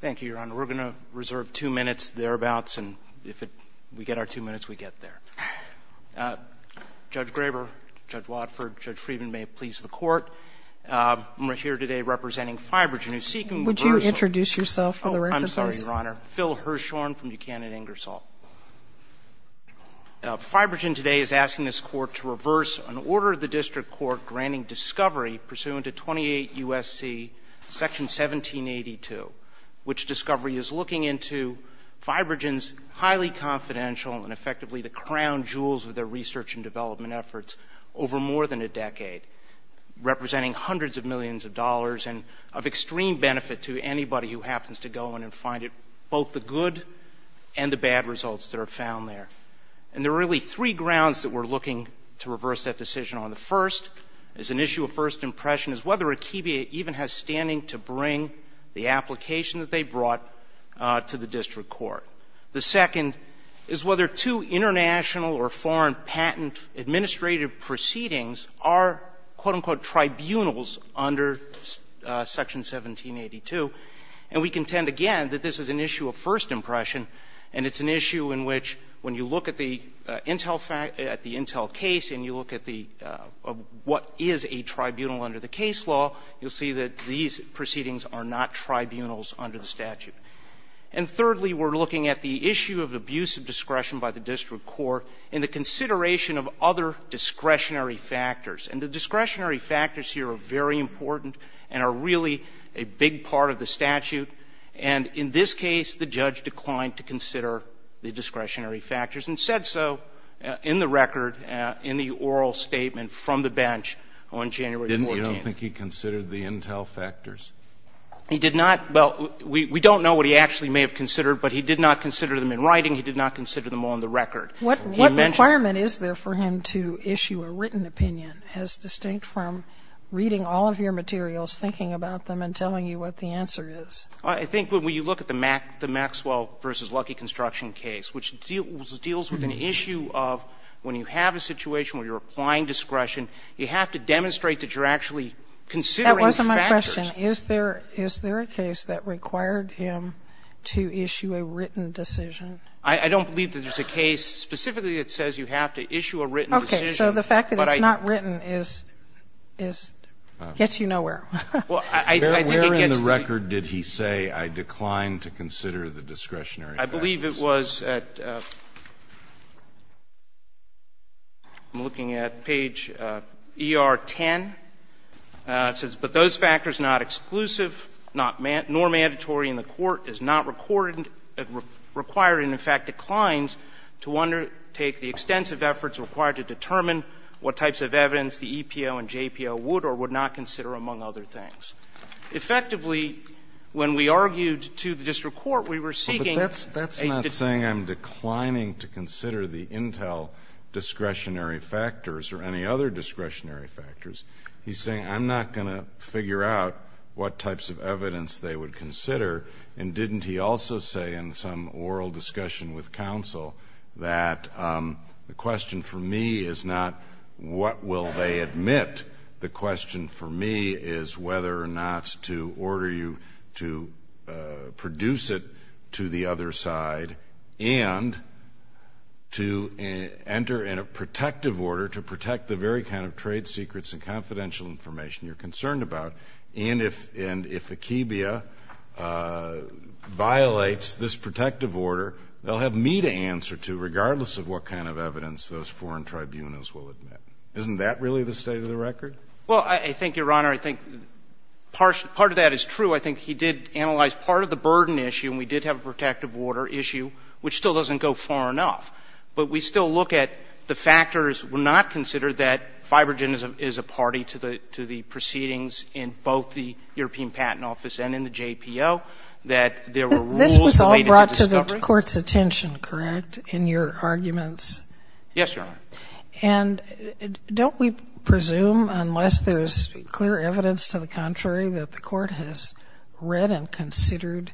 Thank you, Your Honor. We're going to reserve two minutes, thereabouts, and if we get our two minutes, we get there. Judge Graber, Judge Watford, Judge Friedman, may it please the Court. I'm here today representing FibroGen, who is seeking reversal. Would you introduce yourself for the record, please? I'm sorry, Your Honor. Phil Hirshhorn from Buchanan Ingersoll. FibroGen today is asking this Court to reverse an order of the District Court granting discovery pursuant to 28 U.S.C. Section 1782, which discovery is looking into FibroGen's highly confidential and effectively the crown jewels of their research and development efforts over more than a decade, representing hundreds of millions of dollars and of extreme benefit to anybody who happens to go in and find both the good and the bad results that are found there. And there are really three grounds that we're looking to reverse that decision on. The first is an issue of first impression, is whether Akebia even has standing to bring the application that they brought to the District Court. The second is whether two international or foreign patent administrative proceedings are, quote, unquote, tribunals under Section 1782. And we contend, again, that this is an issue of first impression. If you look at the Intel case and you look at the what is a tribunal under the case law, you'll see that these proceedings are not tribunals under the statute. And thirdly, we're looking at the issue of abuse of discretion by the District Court in the consideration of other discretionary factors. And the discretionary factors here are very important and are really a big part of the statute. And in this case, the judge declined to consider the discretionary factors and said so in the record, in the oral statement from the bench on January 14th. Kennedy. I don't think he considered the Intel factors. Carvin. He did not. Well, we don't know what he actually may have considered, but he did not consider them in writing. He did not consider them on the record. He mentioned them in writing. Sotomayor. What requirement is there for him to issue a written opinion as distinct from reading all of your materials, thinking about them, and telling you what the answer is? Carvin. I think when you look at the Maxwell v. Lucky construction case, which deals with an issue of when you have a situation where you're applying discretion, you have to demonstrate that you're actually considering factors. That wasn't my question. Is there a case that required him to issue a written decision? I don't believe that there's a case specifically that says you have to issue a written decision. Okay. So the fact that it's not written is gets you nowhere. Well, I think it gets you nowhere. Where in the record did he say, I declined to consider the discretionary factors? I believe it was at, I'm looking at page ER-10. It says, But those factors not exclusive nor mandatory in the court is not required and, in fact, declines to undertake the extensive efforts required to determine what types of evidence the EPO and JPO would or would not consider, among other things. Effectively, when we argued to the district court, we were seeking That's not saying I'm declining to consider the intel discretionary factors or any other discretionary factors. He's saying I'm not going to figure out what types of evidence they would consider. And didn't he also say in some oral discussion with counsel that the question for me is not what will they admit, the question for me is whether or not to order you to produce it to the other side and to enter in a protective order to protect the very kind of trade secrets and confidential information you're concerned about. And if Akebia violates this protective order, they'll have me to answer to, regardless of what kind of evidence those foreign tribunals will admit. Isn't that really the state of the record? Well, I think, Your Honor, I think part of that is true. I think he did analyze part of the burden issue, and we did have a protective order issue, which still doesn't go far enough. But we still look at the factors were not considered that Fibrogen is a party to the proceedings in both the European Patent Office and in the JPO, that there were rules related to discovery. This was all brought to the Court's attention, correct, in your arguments? Yes, Your Honor. And don't we presume, unless there's clear evidence to the contrary, that the Court has read and considered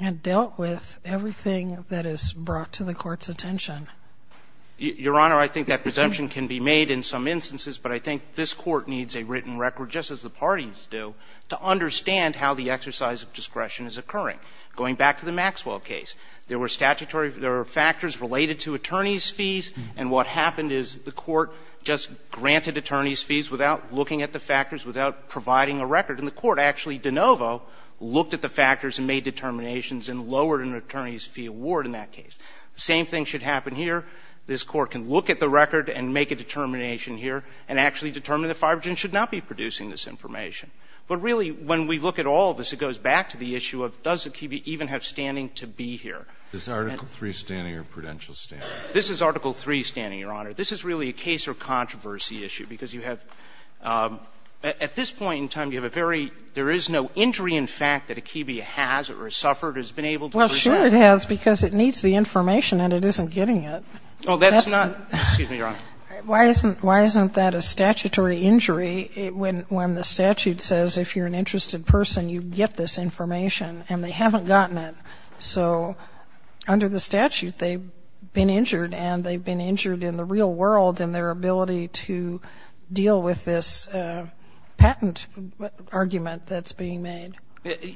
and dealt with everything that is brought to the Court's attention? Your Honor, I think that presumption can be made in some instances, but I think this Court needs a written record, just as the parties do, to understand how the exercise of discretion is occurring. Going back to the Maxwell case, there were statutory – there were factors related to attorneys' fees, and what happened is the Court just granted attorneys' fees without looking at the factors, without providing a record. And the Court actually, de novo, looked at the factors and made determinations and lowered an attorney's fee award in that case. The same thing should happen here. This Court can look at the record and make a determination here and actually determine that Fibrogen should not be producing this information. But really, when we look at all of this, it goes back to the issue of does Zucchini even have standing to be here. This is Article III standing or prudential standing? This is Article III standing, Your Honor. This is really a case or controversy issue, because you have – at this point in time, you have a very – there is no injury in fact that Akibia has or has suffered or has been able to present. Well, sure it has, because it needs the information and it isn't getting it. Well, that's not – excuse me, Your Honor. Why isn't that a statutory injury when the statute says if you're an interested person, you get this information, and they haven't gotten it? So under the statute, they've been injured, and they've been injured in the real world in their ability to deal with this patent argument that's being made.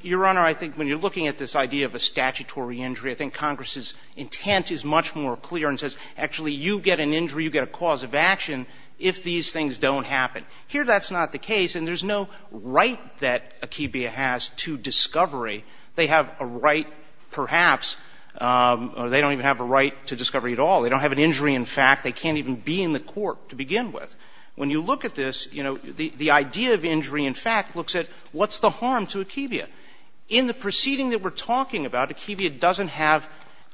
Your Honor, I think when you're looking at this idea of a statutory injury, I think Congress's intent is much more clear and says, actually, you get an injury, you get a cause of action if these things don't happen. Here, that's not the case, and there's no right that Akibia has to discovery. They have a right perhaps – or they don't even have a right to discovery at all. They don't have an injury in fact. They can't even be in the court to begin with. When you look at this, you know, the idea of injury in fact looks at what's the harm to Akibia? In the proceeding that we're talking about, Akibia doesn't have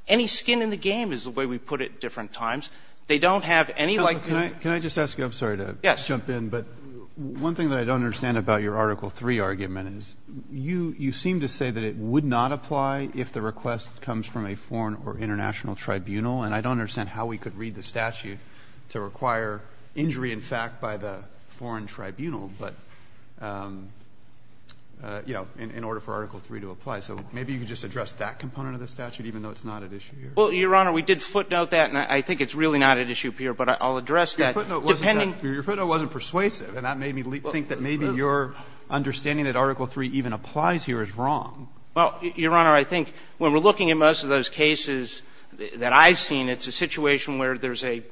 any skin in the game, is the way we put it at different times. They don't have any like – Can I just ask you – I'm sorry to jump in. Yes. But one thing that I don't understand about your Article III argument is you seem to say that it would not apply if the request comes from a foreign or international tribunal, and I don't understand how we could read the statute to require injury in fact by the foreign tribunal, but, you know, in order for Article III to apply. So maybe you could just address that component of the statute, even though it's not at issue here. Well, Your Honor, we did footnote that, and I think it's really not at issue here, but I'll address that. Your footnote wasn't persuasive, and that made me think that maybe your understanding that Article III even applies here is wrong. Well, Your Honor, I think when we're looking at most of those cases that I've seen, it's a situation where there's an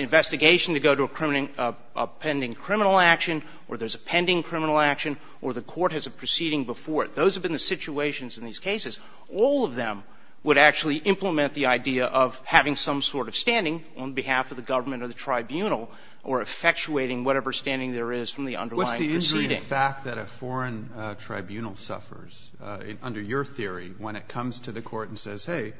investigation to go to a pending criminal action, or there's a pending criminal action, or the court has a proceeding before it. Those have been the situations in these cases. All of them would actually implement the idea of having some sort of standing on behalf of the government or the tribunal or effectuating whatever standing there is from the underlying proceeding. But the fact that a foreign tribunal suffers, under your theory, when it comes to the court and says, hey,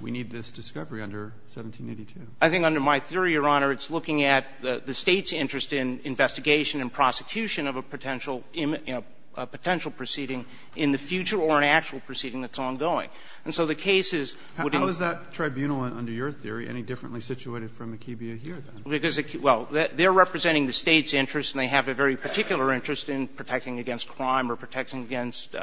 we need this discovery under 1782. I think under my theory, Your Honor, it's looking at the State's interest in investigation and prosecution of a potential, you know, a potential proceeding in the future or an actual proceeding that's ongoing. And so the cases would be How is that tribunal, under your theory, any differently situated from akibea here, then? Well, they're representing the State's interest, and they have a very particular interest in protecting against crime or protecting against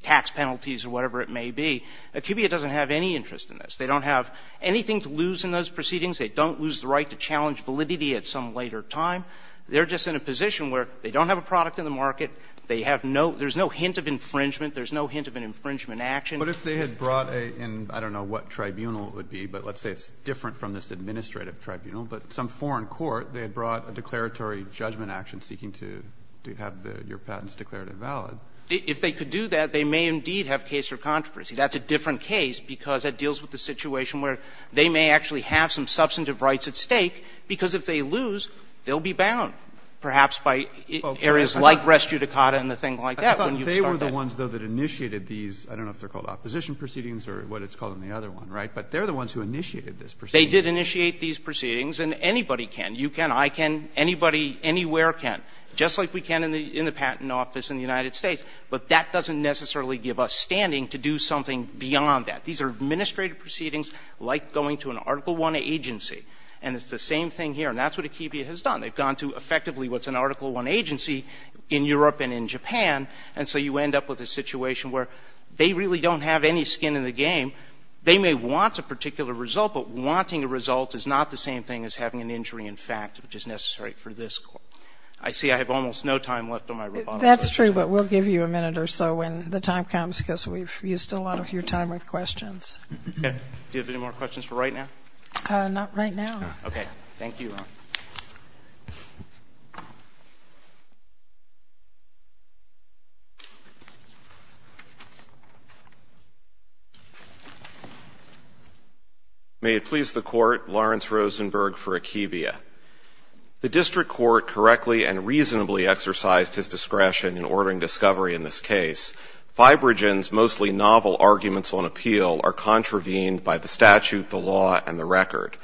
tax penalties or whatever it may be. Akibea doesn't have any interest in this. They don't have anything to lose in those proceedings. They don't lose the right to challenge validity at some later time. They're just in a position where they don't have a product in the market. They have no – there's no hint of infringement. There's no hint of an infringement action. But if they had brought a – I don't know what tribunal it would be, but let's say it's different from this administrative tribunal. But some foreign court, they had brought a declaratory judgment action seeking to have your patents declared invalid. If they could do that, they may indeed have case or controversy. That's a different case because it deals with the situation where they may actually have some substantive rights at stake, because if they lose, they'll be bound, perhaps by areas like res judicata and the thing like that when you start that. They were the ones, though, that initiated these – I don't know if they're called opposition proceedings or what it's called in the other one, right? But they're the ones who initiated this proceeding. They did initiate these proceedings, and anybody can. You can. I can. Anybody anywhere can, just like we can in the patent office in the United States. But that doesn't necessarily give us standing to do something beyond that. These are administrative proceedings like going to an Article I agency. And it's the same thing here. And that's what Akibia has done. They've gone to effectively what's an Article I agency in Europe and in Japan. And so you end up with a situation where they really don't have any skin in the game. They may want a particular result, but wanting a result is not the same thing as having an injury in fact, which is necessary for this court. I see I have almost no time left on my rebuttal. That's true, but we'll give you a minute or so when the time comes, because we've used a lot of your time with questions. Do you have any more questions for right now? Not right now. Okay. Thank you, Your Honor. May it please the Court, Lawrence Rosenberg for Akibia. The district court correctly and reasonably exercised his discretion in ordering discovery in this case. Fibrogen's mostly novel arguments on appeal are contravened by the statute, the law, and the record.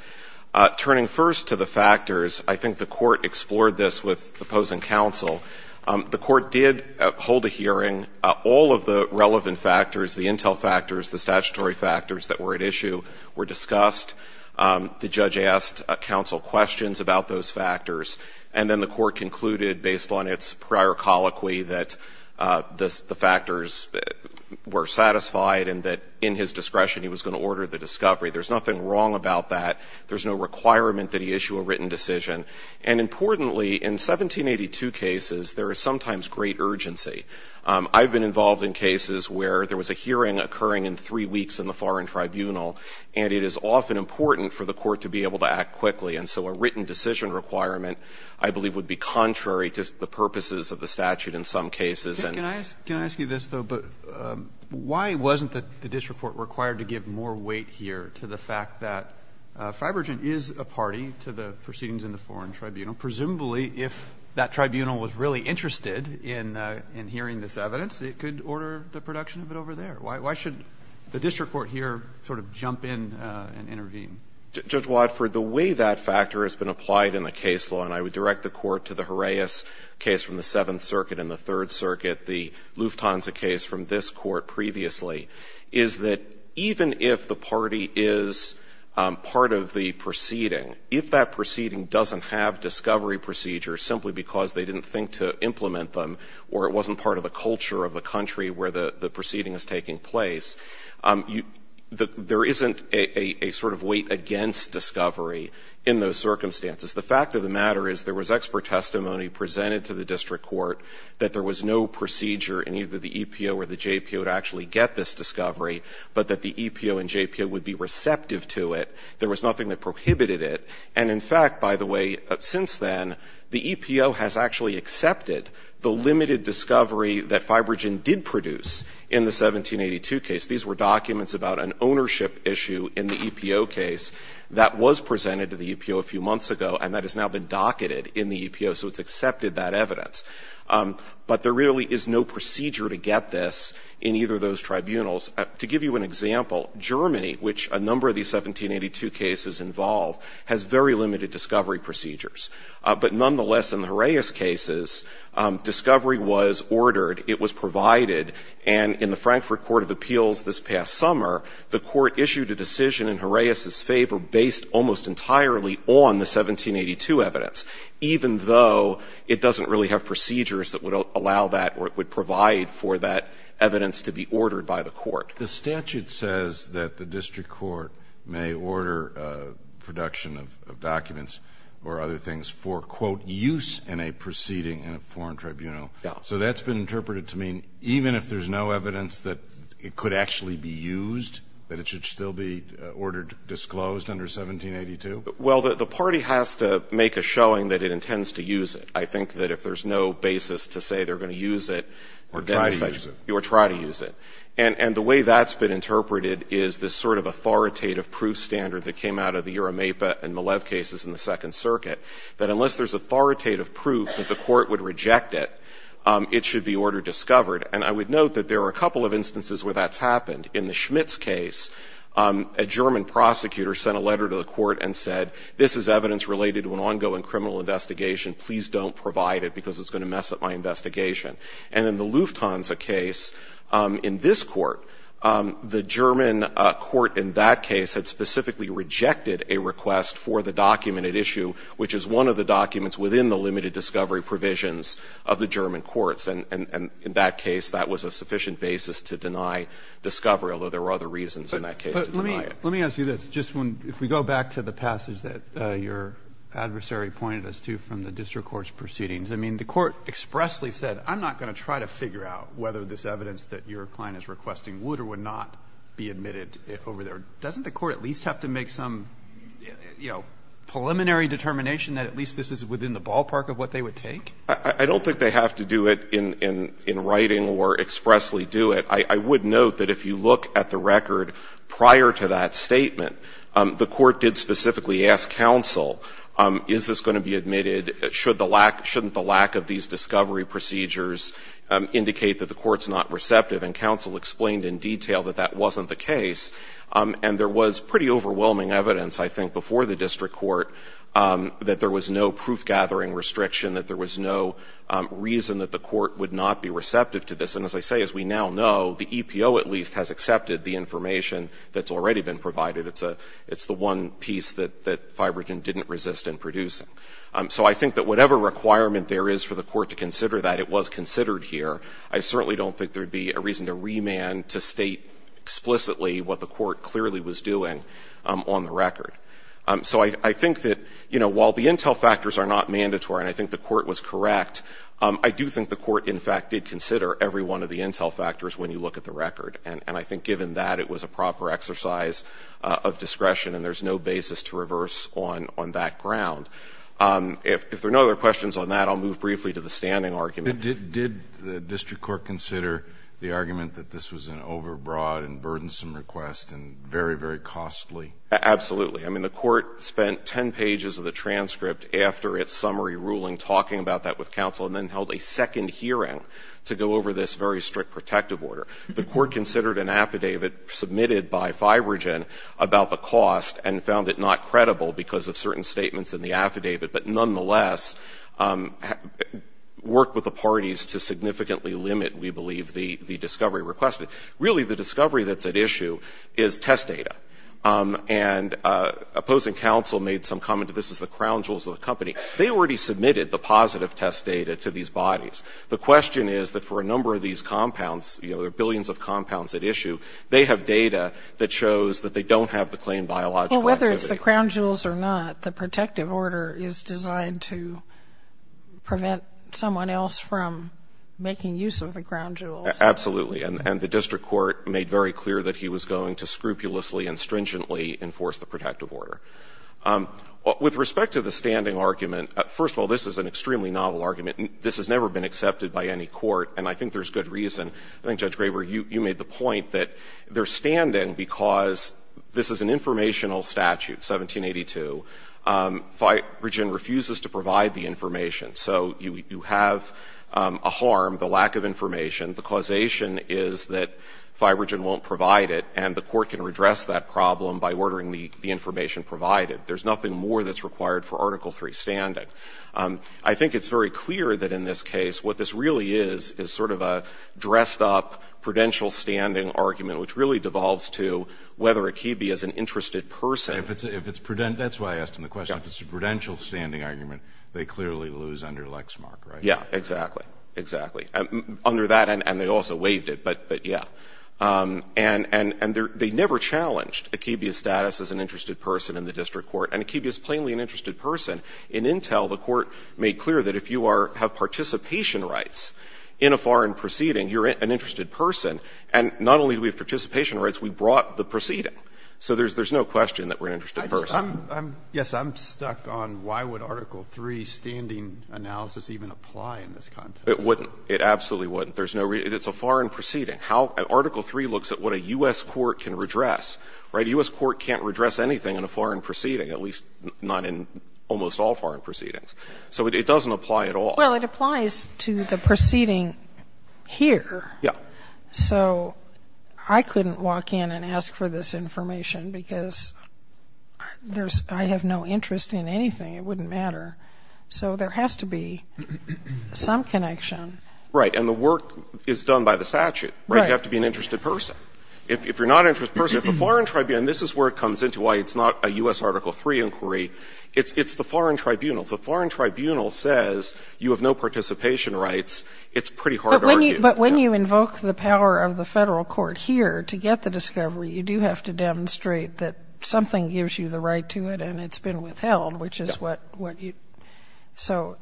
Turning first to the factors, I think the court explored this with the opposing counsel. The court did hold a hearing. All of the relevant factors, the intel factors, the statutory factors that were at issue were discussed. The judge asked counsel questions about those factors. And then the court concluded based on its prior colloquy that the factors were satisfied and that in his discretion he was going to order the discovery. There's nothing wrong about that. There's no requirement that he issue a written decision. And importantly, in 1782 cases, there is sometimes great urgency. I've been involved in cases where there was a hearing occurring in three weeks in the foreign tribunal, and it is often important for the court to be able to act quickly. And so a written decision requirement, I believe, would be contrary to the purposes of the statute in some cases. Alito, can I ask you this, though? Why wasn't the district court required to give more weight here to the fact that Fibrogen is a party to the proceedings in the foreign tribunal? Presumably, if that tribunal was really interested in hearing this evidence, it could order the production of it over there. Why should the district court here sort of jump in and intervene? Judge Wadford, the way that factor has been applied in the case law, and I would to the Horaeus case from the Seventh Circuit and the Third Circuit, the Lufthansa case from this Court previously, is that even if the party is part of the proceeding, if that proceeding doesn't have discovery procedures simply because they didn't think to implement them or it wasn't part of the culture of the country where the proceeding is taking place, there isn't a sort of weight against discovery in those circumstances. In the 1782 case, Fibrogen's expert testimony presented to the district court that there was no procedure in either the EPO or the JPO to actually get this discovery, but that the EPO and JPO would be receptive to it. There was nothing that prohibited it. And, in fact, by the way, since then, the EPO has actually accepted the limited discovery that Fibrogen did produce in the 1782 case. These were documents about an ownership issue in the EPO case that was presented to the EPO a few months ago, and that has now been docketed in the EPO. So it's accepted that evidence. But there really is no procedure to get this in either of those tribunals. To give you an example, Germany, which a number of these 1782 cases involve, has very limited discovery procedures. But, nonetheless, in the Horaeus cases, discovery was ordered, it was provided, and in the Frankfurt Court of Appeals this past summer, the Court issued a decision in Horaeus' favor based almost entirely on the 1782 evidence, even though it doesn't really have procedures that would allow that or would provide for that evidence to be ordered by the Court. The statute says that the district court may order production of documents or other things for, quote, use in a proceeding in a foreign tribunal. Yeah. So that's been interpreted to mean even if there's no evidence that it could actually be used, that it should still be ordered, disclosed under 1782? Well, the party has to make a showing that it intends to use it. I think that if there's no basis to say they're going to use it, then it's like you try to use it. And the way that's been interpreted is this sort of authoritative proof standard that came out of the Urameipa and Malev cases in the Second Circuit, that unless there's authoritative proof that the Court would reject it, it should be ordered, discovered. And I would note that there are a couple of instances where that's happened. In the Schmitz case, a German prosecutor sent a letter to the Court and said, this is evidence related to an ongoing criminal investigation. Please don't provide it because it's going to mess up my investigation. And in the Lufthansa case, in this Court, the German Court in that case had specifically rejected a request for the documented issue, which is one of the documents within the limited discovery provisions of the German courts. And in that case, that was a sufficient basis to deny discovery, although there were other reasons in that case to deny it. But let me ask you this. Just when we go back to the passage that your adversary pointed us to from the district court's proceedings, I mean, the Court expressly said, I'm not going to try to figure out whether this evidence that your client is requesting would or would not be admitted over there. Doesn't the Court at least have to make some, you know, preliminary determination that at least this is within the ballpark of what they would take? I don't think they have to do it in writing or expressly do it. I would note that if you look at the record prior to that statement, the Court did specifically ask counsel, is this going to be admitted? Should the lack of these discovery procedures indicate that the court's not receptive? And counsel explained in detail that that wasn't the case. And there was pretty overwhelming evidence, I think, before the district court, that there was no proof-gathering restriction, that there was no reason that the court would not be receptive to this. And as I say, as we now know, the EPO at least has accepted the information that's already been provided. It's the one piece that Fibrogen didn't resist in producing. So I think that whatever requirement there is for the court to consider that, it was considered here. I certainly don't think there would be a reason to remand to state explicitly what the court clearly was doing on the record. So I think that, you know, while the intel factors are not mandatory, and I think the court was correct, I do think the court, in fact, did consider every one of the intel factors when you look at the record. And I think given that, it was a proper exercise of discretion, and there's no basis to reverse on that ground. If there are no other questions on that, I'll move briefly to the standing argument. Kennedy. Did the district court consider the argument that this was an overbroad and burdensome request and very, very costly? Absolutely. I mean, the court spent 10 pages of the transcript after its summary ruling talking about that with counsel and then held a second hearing to go over this very strict protective order. The court considered an affidavit submitted by Fibrogen about the cost and found it not credible because of certain statements in the affidavit, but nonetheless, worked with the parties to significantly limit, we believe, the discovery requested. Really, the discovery that's at issue is test data. And opposing counsel made some comment that this is the crown jewels of the company. They already submitted the positive test data to these bodies. The question is that for a number of these compounds, you know, there are billions of compounds at issue, they have data that shows that they don't have the claimed biological activity. Well, whether it's the crown jewels or not, the protective order is designed to prevent someone else from making use of the crown jewels. Absolutely. And the district court made very clear that he was going to scrupulously and stringently enforce the protective order. With respect to the standing argument, first of all, this is an extremely novel argument. This has never been accepted by any court, and I think there's good reason. I think, Judge Graber, you made the point that they're standing because this is an informational statute, 1782. Fibrogen refuses to provide the information. So you have a harm, the lack of information. The causation is that Fibrogen won't provide it, and the court can redress that problem by ordering the information provided. There's nothing more that's required for Article III standing. I think it's very clear that in this case what this really is is sort of a dressed-up prudential standing argument, which really devolves to whether Akibe is an interested person. If it's prudential, that's why I asked him the question. If it's a prudential standing argument, they clearly lose under Lexmark, right? Yeah, exactly, exactly. Under that, and they also waived it, but yeah. And they never challenged Akibe's status as an interested person in the district court, and Akibe is plainly an interested person. In Intel, the court made clear that if you have participation rights in a foreign proceeding, you're an interested person. And not only do we have participation rights, we brought the proceeding. So there's no question that we're an interested person. Yes, I'm stuck on why would Article III standing analysis even apply in this context? It wouldn't. It absolutely wouldn't. There's no reason. It's a foreign proceeding. Article III looks at what a U.S. court can redress, right? A U.S. court can't redress anything in a foreign proceeding, at least not in almost all foreign proceedings. So it doesn't apply at all. Well, it applies to the proceeding here. Yeah. So I couldn't walk in and ask for this information because I have no interest in anything. It wouldn't matter. So there has to be some connection. Right. And the work is done by the statute, right? You have to be an interested person. If you're not an interested person, if the foreign tribunal, and this is where it comes into why it's not a U.S. Article III inquiry, it's the foreign tribunal. to argue with that. But when you invoke the power of the federal court here to get the discovery, you do have to demonstrate that something gives you the right to it and it's been withheld, which is what you... Yeah. So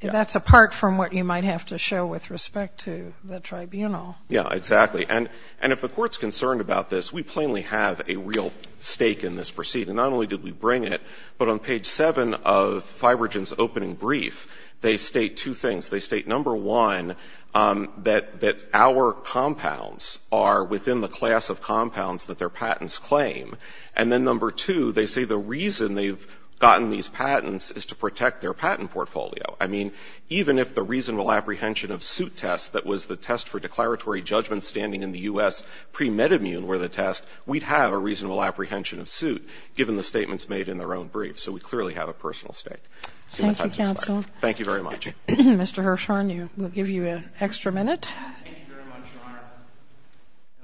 that's apart from what you might have to show with respect to the tribunal. Yeah, exactly. And if the court's concerned about this, we plainly have a real stake in this proceeding. Not only did we bring it, but on page 7 of Fibrogen's opening brief, they state two things. They state, number one, that our compounds are within the class of compounds that their patents claim. And then, number two, they say the reason they've gotten these patents is to protect their patent portfolio. I mean, even if the reasonable apprehension of suit test that was the test for declaratory judgment standing in the U.S. pre-med immune were the test, we'd have a reasonable apprehension of suit given the statements made in their own brief. So we clearly have a personal stake. Thank you, counsel. Thank you very much. Mr. Hirshhorn, we'll give you an extra minute. Thank you very much, Your Honor.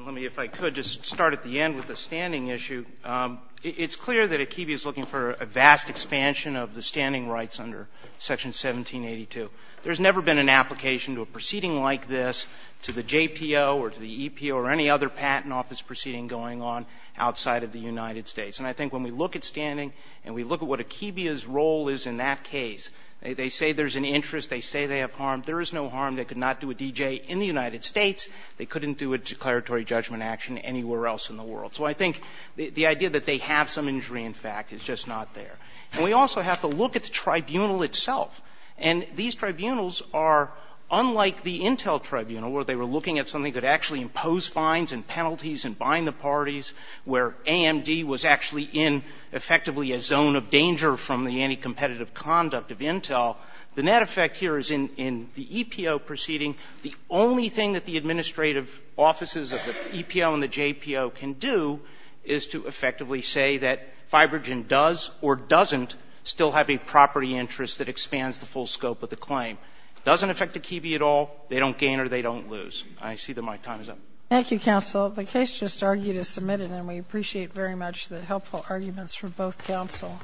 Let me, if I could, just start at the end with the standing issue. It's clear that Akebia is looking for a vast expansion of the standing rights under Section 1782. There's never been an application to a proceeding like this to the JPO or to the EPO or any other patent office proceeding going on outside of the United States. And I think when we look at standing and we look at what Akebia's role is in that case, they say there's an interest. They say they have harm. There is no harm. They could not do a DJ in the United States. They couldn't do a declaratory judgment action anywhere else in the world. So I think the idea that they have some injury, in fact, is just not there. And we also have to look at the tribunal itself. And these tribunals are unlike the Intel Tribunal where they were looking at something that actually imposed fines and penalties and bind the parties, where AMD was actually in effectively a zone of danger from the anti-competitive conduct of Intel. The net effect here is in the EPO proceeding, the only thing that the administrative offices of the EPO and the JPO can do is to effectively say that Fibrogen does or doesn't still have a property interest that expands the full scope of the claim. It doesn't affect Akebia at all. They don't gain or they don't lose. I see that my time is up. Thank you, counsel. The case just argued is submitted, and we appreciate very much the helpful arguments from both counsel.